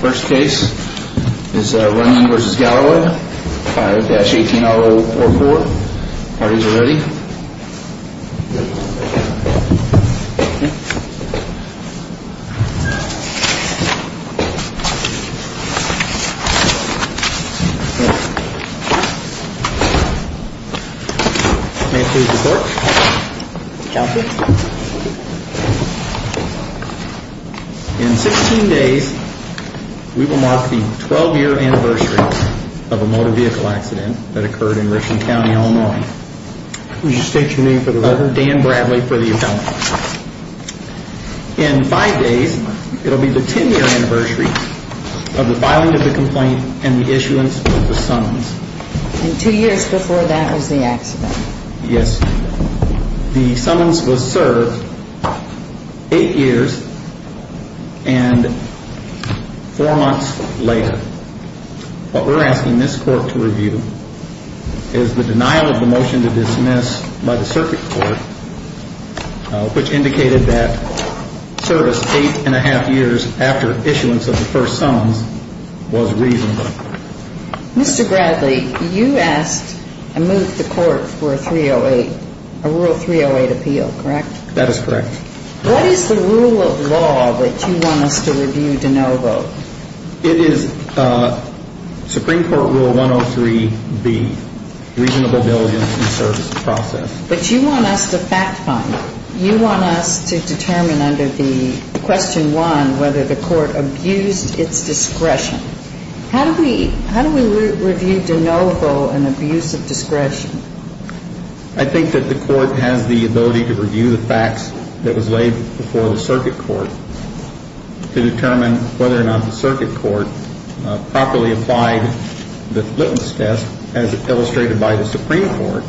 First case is Runyon v. Galloway, 5-18-044. Parties are ready. May I please report? Count it. In 16 days, we will mark the 12-year anniversary of a motor vehicle accident that occurred in Richland County, Illinois. Would you state your name for the record? Dan Bradley for the account. In five days, it will be the 10-year anniversary of the filing of the complaint and the issuance of the summons. And two years before that was the accident. Yes. The summons was served eight years and four months later. What we're asking this court to review is the denial of the motion to dismiss by the circuit court, which indicated that service eight and a half years after issuance of the first summons was reasonable. Mr. Bradley, you asked and moved the court for a 308, a Rule 308 appeal, correct? That is correct. What is the rule of law that you want us to review de novo? It is Supreme Court Rule 103B, reasonable diligence in the service process. But you want us to fact-find. You want us to determine under the question one whether the court abused its discretion. How do we review de novo an abuse of discretion? I think that the court has the ability to review the facts that was laid before the circuit court to determine whether or not the circuit court properly applied the litmus test as illustrated by the Supreme Court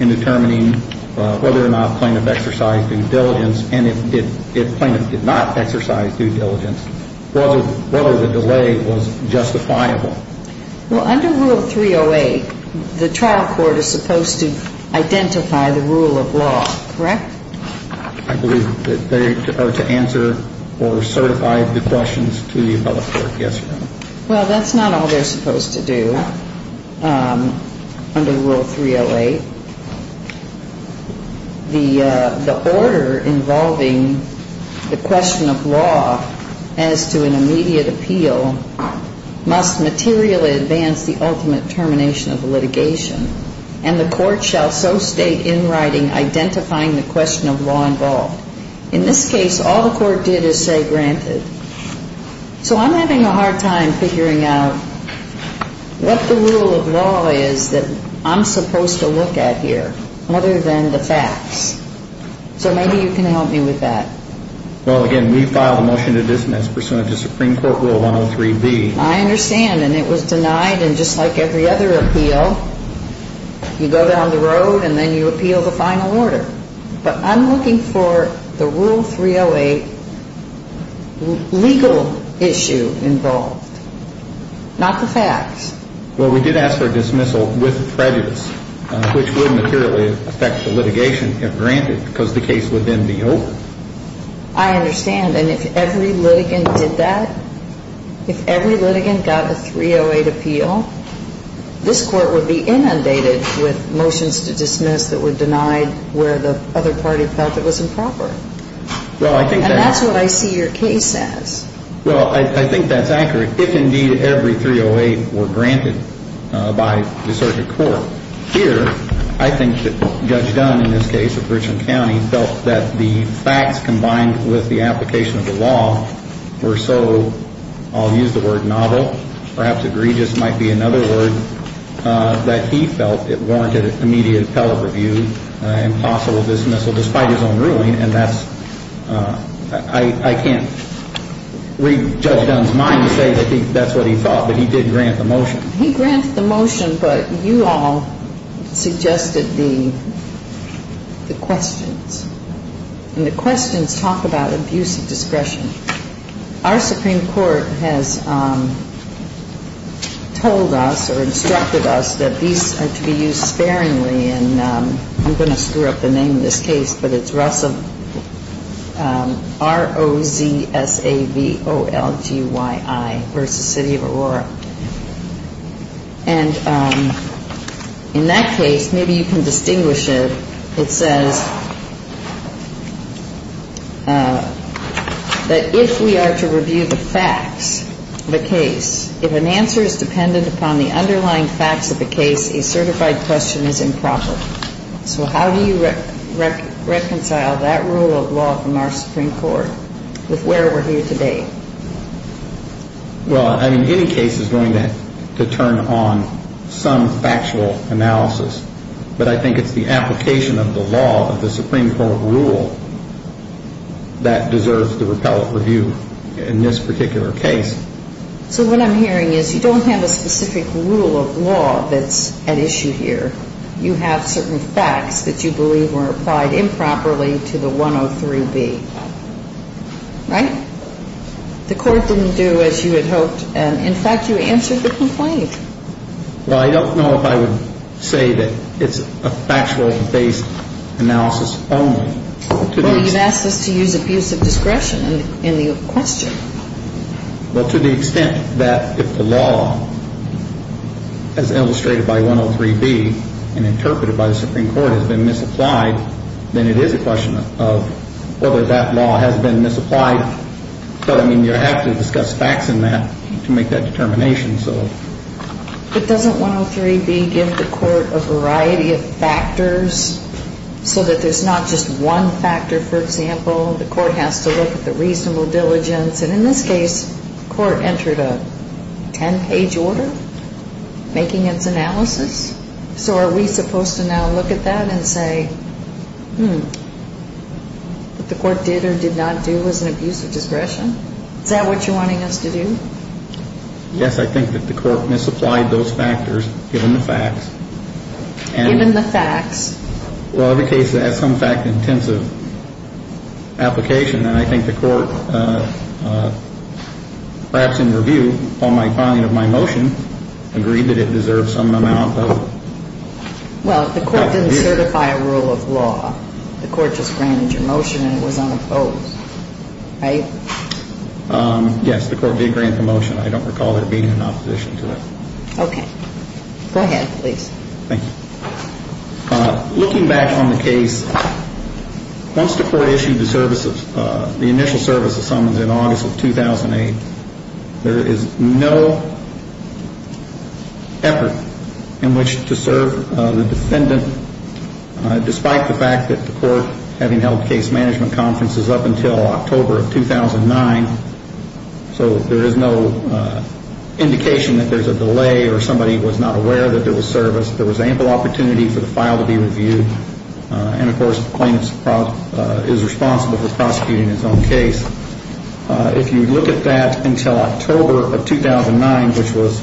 in determining whether or not plaintiff exercised due diligence and if plaintiff did not exercise due diligence, whether the delay was justifiable. Well, under Rule 308, the trial court is supposed to identify the rule of law, correct? I believe that they are to answer or certify the questions to the appellate court. Yes, Your Honor. Well, that's not all they're supposed to do under Rule 308. The order involving the question of law as to an immediate appeal must materially advance the ultimate termination of litigation and the court shall so state in writing identifying the question of law involved. In this case, all the court did is say granted. So I'm having a hard time figuring out what the rule of law is that I'm supposed to look at. Other than the facts. So maybe you can help me with that. Well, again, we filed a motion to dismiss pursuant to Supreme Court Rule 103B. I understand. And it was denied. And just like every other appeal, you go down the road and then you appeal the final order. But I'm looking for the Rule 308 legal issue involved, not the facts. Well, we did ask for a dismissal with prejudice, which would materially affect the litigation if granted, because the case would then be over. I understand. And if every litigant did that, if every litigant got a 308 appeal, this court would be inundated with motions to dismiss that were denied where the other party felt it was improper. And that's what I see your case as. Well, I think that's accurate. If, indeed, every 308 were granted by the circuit court. Here, I think that Judge Dunn, in this case of Richland County, felt that the facts combined with the application of the law were so, I'll use the word novel, perhaps egregious might be another word, that he felt it warranted immediate appellate review, impossible dismissal despite his own ruling. And that's, I can't read Judge Dunn's mind to say that that's what he thought, but he did grant the motion. He granted the motion, but you all suggested the questions. And the questions talk about abuse of discretion. Our Supreme Court has told us or instructed us that these are to be used sparingly, and I'm going to screw up the name of this case, but it's ROZSAVOLGYI v. City of Aurora. And in that case, maybe you can distinguish it. It says that if we are to review the facts of the case, if an answer is dependent upon the underlying facts of the case, a certified question is improper. So how do you reconcile that rule of law from our Supreme Court with where we're here today? Well, I mean, any case is going to turn on some factual analysis, but I think it's the application of the law of the Supreme Court rule that deserves the appellate review in this particular case. So what I'm hearing is you don't have a specific rule of law that's at issue here. You have certain facts that you believe were applied improperly to the 103B, right? The Court didn't do as you had hoped, and in fact, you answered the complaint. Well, I don't know if I would say that it's a factual-based analysis only. Well, you can ask us to use abuse of discretion in the question. Well, to the extent that if the law, as illustrated by 103B and interpreted by the Supreme Court, has been misapplied, then it is a question of whether that law has been misapplied. But, I mean, you have to discuss facts in that to make that determination. But doesn't 103B give the Court a variety of factors so that there's not just one factor, for example? The Court has to look at the reasonable diligence. And in this case, the Court entered a 10-page order making its analysis. So are we supposed to now look at that and say, hmm, what the Court did or did not do was an abuse of discretion? Is that what you're wanting us to do? Yes, I think that the Court misapplied those factors given the facts. Given the facts? Well, every case that has some fact-intensive application, then I think the Court, perhaps in review, on my finding of my motion, agreed that it deserves some amount of... Well, if the Court didn't certify a rule of law, the Court just granted your motion and it was unopposed, right? Yes, the Court did grant the motion. I don't recall there being an opposition to it. Okay. Go ahead, please. Thank you. Looking back on the case, once the Court issued the initial service of summons in August of 2008, there is no effort in which to serve the defendant, despite the fact that the Court, having held case management conferences up until October of 2009. So there is no indication that there's a delay or somebody was not aware that there was service. There was ample opportunity for the file to be reviewed. And, of course, the plaintiff is responsible for prosecuting his own case. If you look at that until October of 2009, which was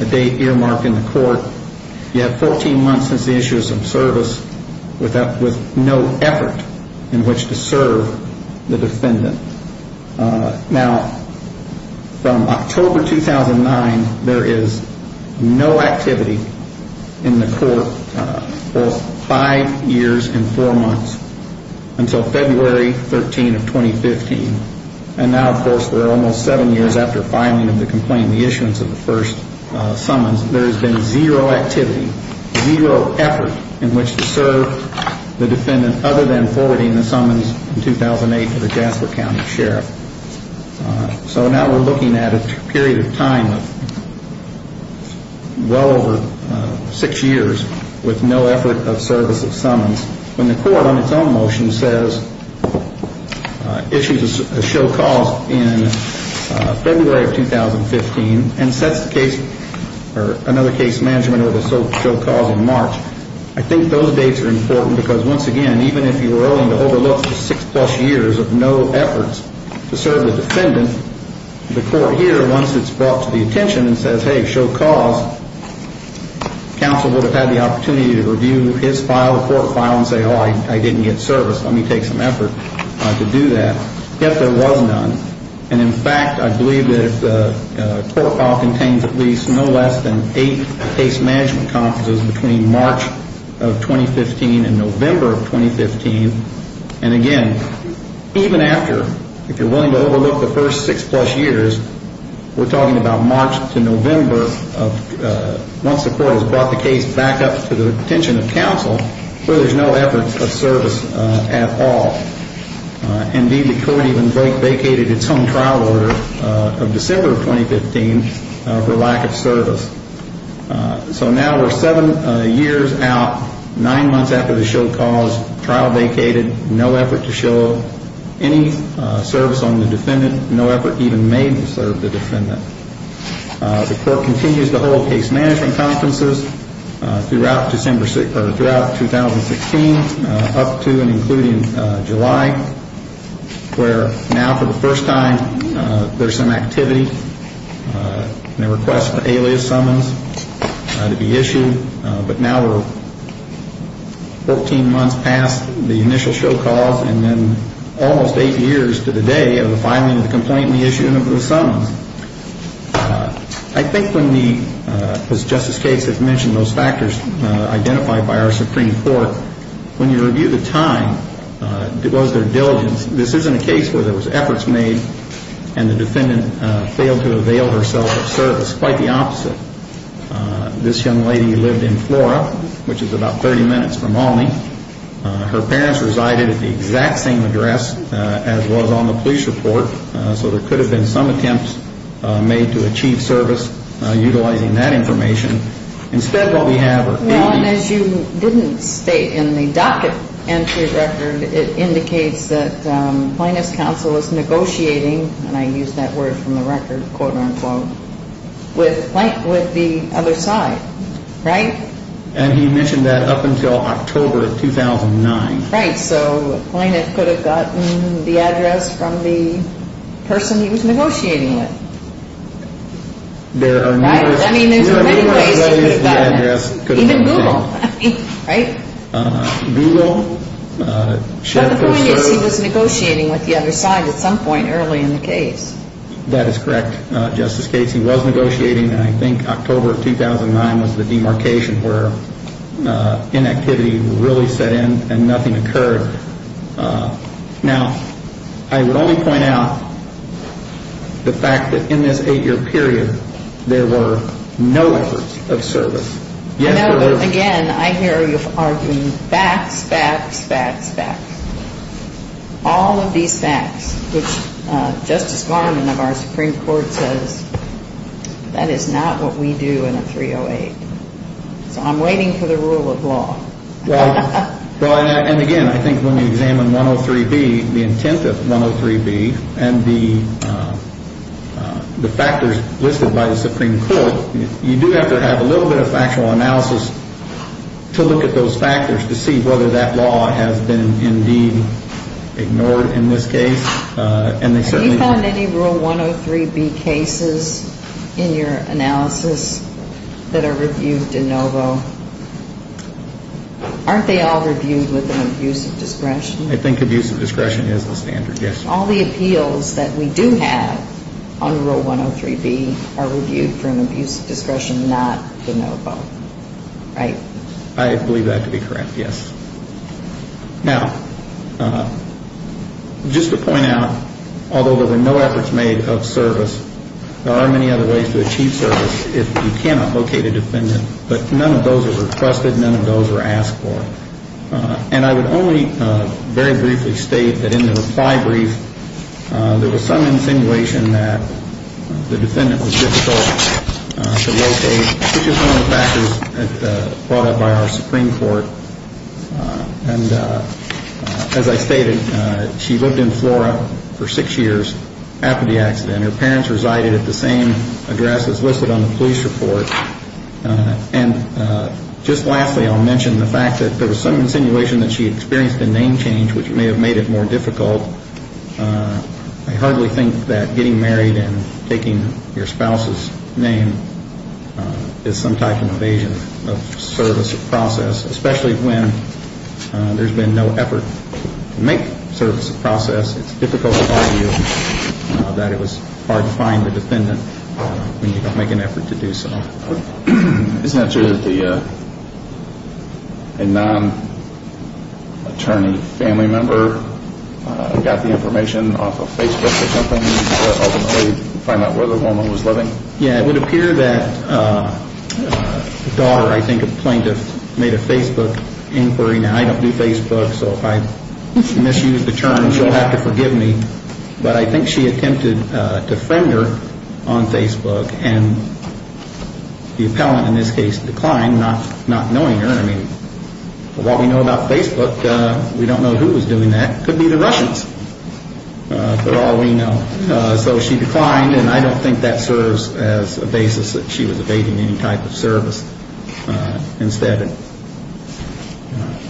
a date earmarked in the Court, you have 14 months since the issue of some service with no effort in which to serve the defendant. Now, from October 2009, there is no activity in the Court for five years and four months until February 13 of 2015. And now, of course, there are almost seven years after filing of the complaint, the issuance of the first summons. There has been zero activity, zero effort in which to serve the defendant, other than forwarding the summons in 2008 to the Jasper County Sheriff. So now we're looking at a period of time of well over six years with no effort of service of summons. When the Court, on its own motion, says issues a show cause in February of 2015 and sets another case management order to show cause in March, I think those dates are important because, once again, even if you were willing to overlook the six-plus years of no efforts to serve the defendant, the Court here, once it's brought to the attention and says, hey, show cause, counsel would have had the opportunity to review his file, the Court file, and say, oh, I didn't get service. Let me take some effort to do that. Yet there was none. And, in fact, I believe that the Court file contains at least no less than eight case management conferences between March of 2015 and November of 2015. And, again, even after, if you're willing to overlook the first six-plus years, we're talking about March to November of once the Court has brought the case back up to the attention of counsel where there's no effort of service at all. Indeed, the Court even vacated its own trial order of December of 2015 for lack of service. So now we're seven years out, nine months after the show cause, trial vacated, no effort to show, any service on the defendant, no effort even made to serve the defendant. The Court continues to hold case management conferences throughout 2016 up to and including July, where now for the first time there's some activity and a request for alias summons to be issued. But now we're 14 months past the initial show cause and then almost eight years to the day of the filing of the complaint and the issue of the summons. I think when we, as Justice Cates has mentioned, those factors identified by our Supreme Court, when you review the time, it was their diligence. This isn't a case where there was efforts made and the defendant failed to avail herself of service. Quite the opposite. This young lady lived in Flora, which is about 30 minutes from Alney. Her parents resided at the exact same address as was on the police report, so there could have been some attempts made to achieve service utilizing that information. Instead, what we have are... Well, and as you didn't state in the docket entry record, it indicates that Plaintiff's counsel is negotiating, and I use that word from the record, quote-unquote, with the other side, right? And he mentioned that up until October of 2009. Right, so Plaintiff could have gotten the address from the person he was negotiating with, right? I mean, there's many ways he could have gotten it. Even Google, right? Google... But the point is he was negotiating with the other side at some point early in the case. That is correct. Justice Casey was negotiating, and I think October of 2009 was the demarcation where inactivity really set in and nothing occurred. Now, I would only point out the fact that in this eight-year period there were no efforts of service. No, but again, I hear you arguing facts, facts, facts, facts. All of these facts, which Justice Garmon of our Supreme Court says that is not what we do in a 308. So I'm waiting for the rule of law. Well, and again, I think when you examine 103B, the intent of 103B, and the factors listed by the Supreme Court, you do have to have a little bit of factual analysis to look at those factors to see whether that law has been indeed ignored in this case. Have you found any Rule 103B cases in your analysis that are reviewed de novo? Aren't they all reviewed with an abuse of discretion? I think abuse of discretion is the standard, yes. All the appeals that we do have under Rule 103B are reviewed for an abuse of discretion, not de novo, right? I believe that to be correct, yes. Now, just to point out, although there were no efforts made of service, there are many other ways to achieve service if you cannot locate a defendant. But none of those are requested. None of those are asked for. And I would only very briefly state that in the reply brief, which is one of the factors brought up by our Supreme Court. And as I stated, she lived in Flora for six years after the accident. Her parents resided at the same address as listed on the police report. And just lastly, I'll mention the fact that there was some insinuation that she experienced a name change, which may have made it more difficult. I hardly think that getting married and taking your spouse's name is some type of invasion of service or process, especially when there's been no effort to make service a process. It's difficult to argue that it was hard to find a defendant when you don't make an effort to do so. Isn't it true that a non-attorney family member got the information off of Facebook or something to ultimately find out where the woman was living? Yeah, it would appear that the daughter, I think, of the plaintiff made a Facebook inquiry. Now, I don't do Facebook, so if I misuse the term, she'll have to forgive me. But I think she attempted to friend her on Facebook, and the appellant, in this case, declined, not knowing her. I mean, what we know about Facebook, we don't know who was doing that. It could be the Russians, for all we know. So she declined, and I don't think that serves as a basis that she was evading any type of service. Instead,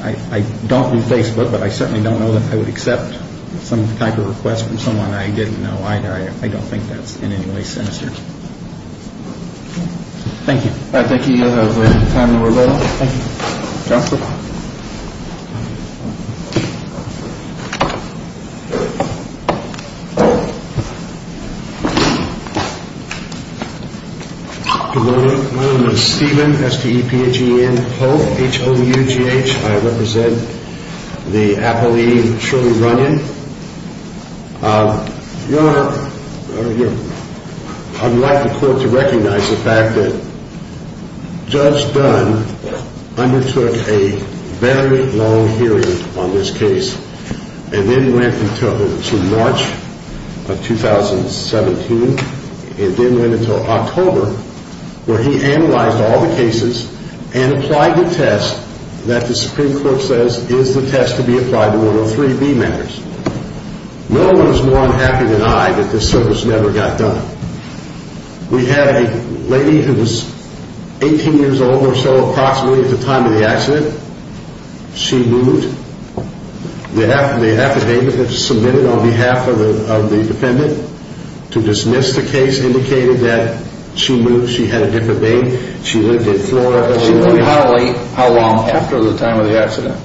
I don't do Facebook, but I certainly don't know that I would accept some type of request from someone I didn't know. I don't think that's in any way sinister. Thank you. All right, thank you. You have time to revolve. Thank you. Good morning. My name is Stephen, S-T-E-P-H-E-N, Hope, H-O-U-G-H. I represent the appellee Shirley Runyon. Your Honor, I would like the court to recognize the fact that Judge Dunn undertook a very long hearing on this case, and then went until March of 2017, and then went until October, where he analyzed all the cases and applied the test that the Supreme Court says is the test to be applied to 103B matters. No one is more unhappy than I that this service never got done. We had a lady who was 18 years old or so approximately at the time of the accident. She moved. The affidavit that was submitted on behalf of the defendant to dismiss the case indicated that she moved. She had a different name. She lived in Florida. She moved how long after the time of the accident?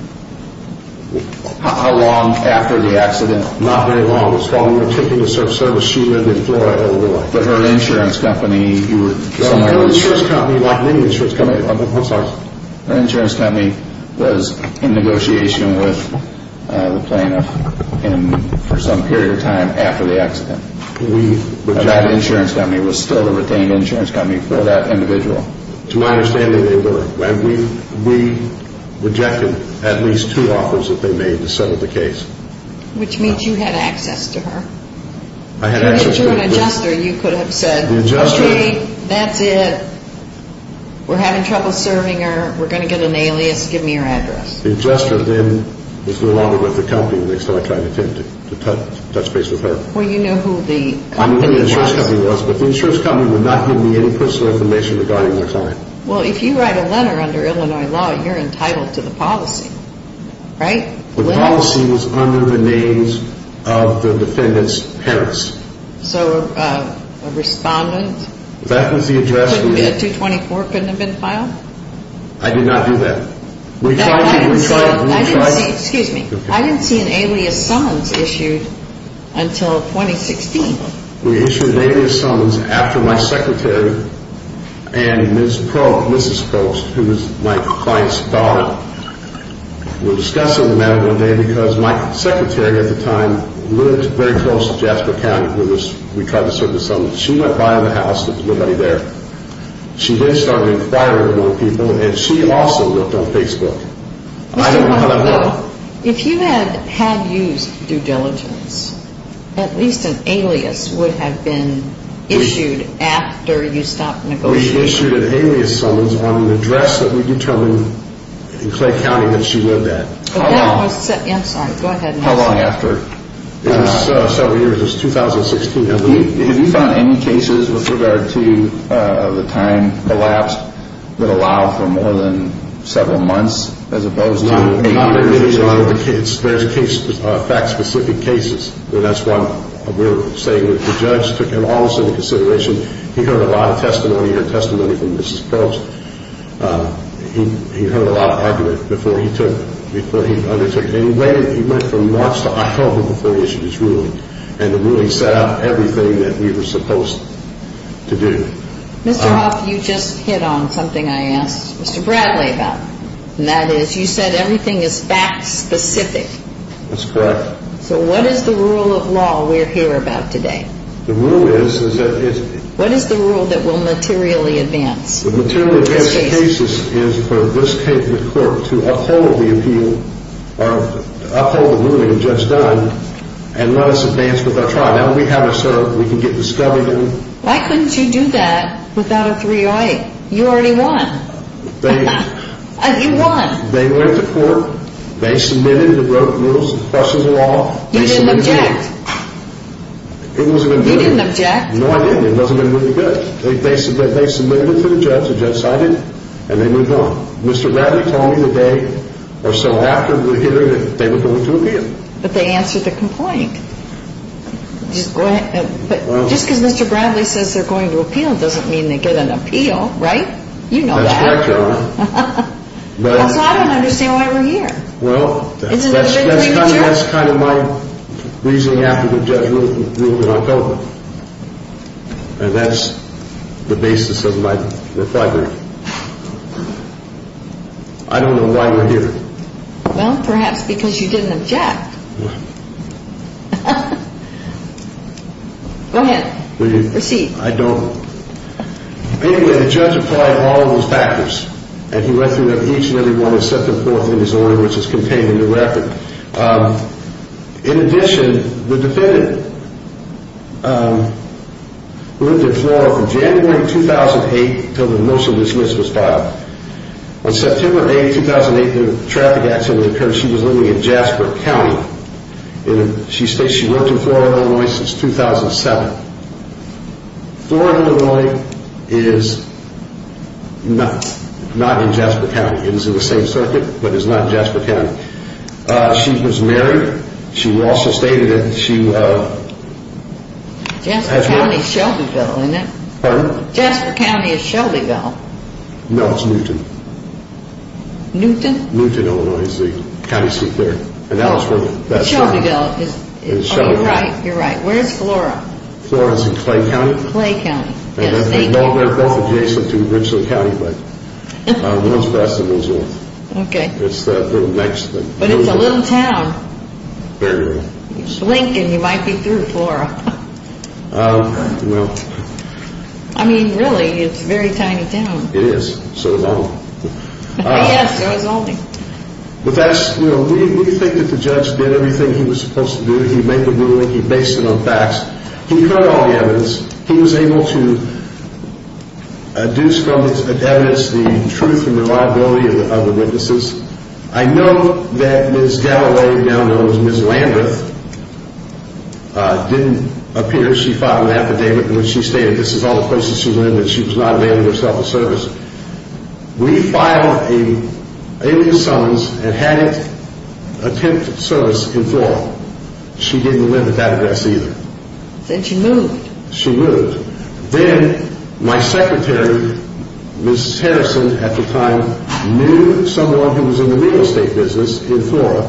How long after the accident? Not very long. When we were taking this service, she lived in Florida all her life. But her insurance company, you were somewhere else. Her insurance company, not any insurance company. I'm sorry. Her insurance company was in negotiation with the plaintiff for some period of time after the accident. That insurance company was still a retained insurance company for that individual. To my understanding, they were. We rejected at least two offers that they made to settle the case. Which means you had access to her. I had access to her. If you were an adjuster, you could have said, Okay, that's it. We're having trouble serving her. We're going to get an alias. Give me her address. The adjuster then was no longer with the company the next time I tried to touch base with her. Well, you knew who the company was. I knew who the insurance company was, but the insurance company would not give me any personal information regarding their client. Well, if you write a letter under Illinois law, you're entitled to the policy, right? The policy was under the names of the defendant's parents. So a respondent? That was the address. 224 couldn't have been filed? I did not do that. We tried to. Excuse me. I didn't see an alias summons issued until 2016. We issued an alias summons after my secretary and Mrs. Post, who was my client's daughter, were discussing the matter one day because my secretary at the time lived very close to Jasper County. We tried to serve the summons. She went by the house. There was nobody there. She then started inquiring among people, and she also looked on Facebook. I don't know how that worked. Mr. Huckabee, if you had had use of due diligence, at least an alias would have been issued after you stopped negotiating. We issued an alias summons on an address that we determined in Clay County that she lived at. I'm sorry. Go ahead. How long after? It was several years. It was 2016. Have you found any cases with regard to the time collapsed that allow for more than several months as opposed to eight years? There's fact-specific cases. That's why we're saying that the judge took it almost into consideration. He heard a lot of testimony. He heard testimony from Mrs. Probst. He heard a lot of argument before he undertook it. And he waited. He went from March to October before he issued his ruling, and the ruling set out everything that we were supposed to do. Mr. Huff, you just hit on something I asked Mr. Bradley about, and that is you said everything is fact-specific. That's correct. So what is the rule of law we're here about today? The rule is that it's— What is the rule that will materially advance this case? The material advance of cases is for this court to uphold the appeal, or uphold the ruling the judge done, and let us advance with our trial. Now, we have a certificate. We can get discovered in it. Why couldn't you do that without a 308? You already won. They— You won. They went to court. They submitted the broken rules and questions of law. You didn't object. It wasn't a good— You didn't object. No, I didn't. It wasn't really good. They submitted it to the judge. The judge cited it, and they moved on. Mr. Bradley told me the day or so after we hit her that they were going to appeal. But they answered the complaint. Just because Mr. Bradley says they're going to appeal doesn't mean they get an appeal, right? You know that. That's correct, Your Honor. Also, I don't understand why we're here. Well, that's kind of my reasoning. I'm going after the judge's ruling on COVID, and that's the basis of my defibrillator. I don't know why we're here. Well, perhaps because you didn't object. Go ahead. Proceed. I don't— Anyway, the judge applied all of those factors, and he went through each and every one and set them forth in his order, which is contained in the record. In addition, the defendant lived in Florida from January 2008 until the motion to dismiss was filed. On September 8, 2008, the traffic accident occurred. She was living in Jasper County. She states she worked in Florida, Illinois since 2007. Florida, Illinois is not in Jasper County. It is in the same circuit, but it's not in Jasper County. She was married. She also stated that she— Jasper County is Shelbyville, isn't it? Pardon? Jasper County is Shelbyville. No, it's Newton. Newton? Newton, Illinois is the county seat there. And that was where— But Shelbyville is— Shelbyville. You're right. You're right. Where is Flora? Flora is in Clay County. Clay County. And they're both adjacent to Richland County, but one's best and one's worst. Okay. But it's a little town. Very little. Lincoln, you might be through, Flora. I mean, really, it's a very tiny town. It is. So is Albany. Yes, so is Albany. But that's—we think that the judge did everything he was supposed to do. He made the ruling. He based it on facts. He cut all the evidence. He was able to deduce from the evidence the truth and the liability of the witnesses. I know that Ms. Galilei, now known as Ms. Lambeth, didn't appear. She filed an affidavit in which she stated this is all the places she lived and she was not availing herself of service. We filed an alien summons and hadn't attempted service in Flora. She didn't live at that address either. Then she moved. She moved. Then my secretary, Ms. Harrison, at the time, knew someone who was in the real estate business in Flora.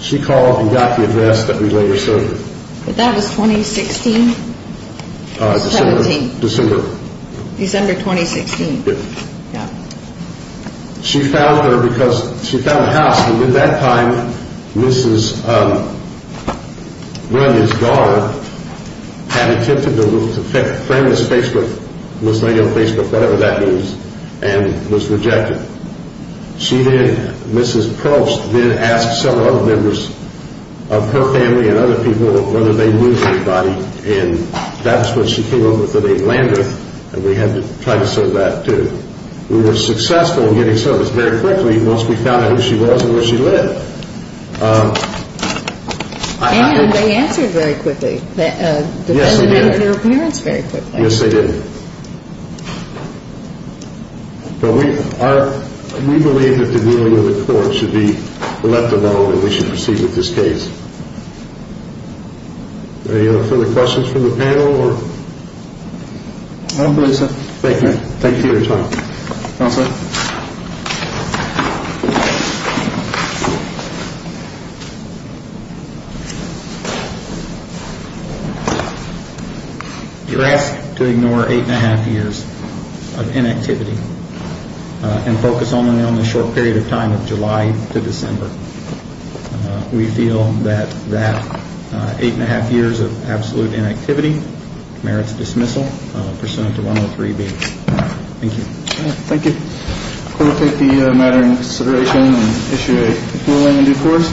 She called and got the address that we later served with. But that was 2016? December. December. December 2016. Yes. Yeah. She found her because—she found a house. And at that time, Mrs. Graham's daughter had attempted to frame Ms. Facebook, Ms. Lady on Facebook, whatever that means, and was rejected. She did—Mrs. Probst did ask several other members of her family and other people whether they knew anybody. And that's when she came up with the name Lambeth. And we had to try to serve that too. We were successful in getting service very quickly once we found out who she was and where she lived. And they answered very quickly, defended her appearance very quickly. Yes, they did. But we believe that the kneeling of the court should be let alone and we should proceed with this case. Any other further questions from the panel? No, please. Thank you. Thank you for your time. Counselor? You're asked to ignore eight and a half years of inactivity and focus only on the short period of time of July to December. We feel that that eight and a half years of absolute inactivity merits dismissal pursuant to 103B. Thank you. Thank you. We'll take the matter into consideration and issue a ruling in due course.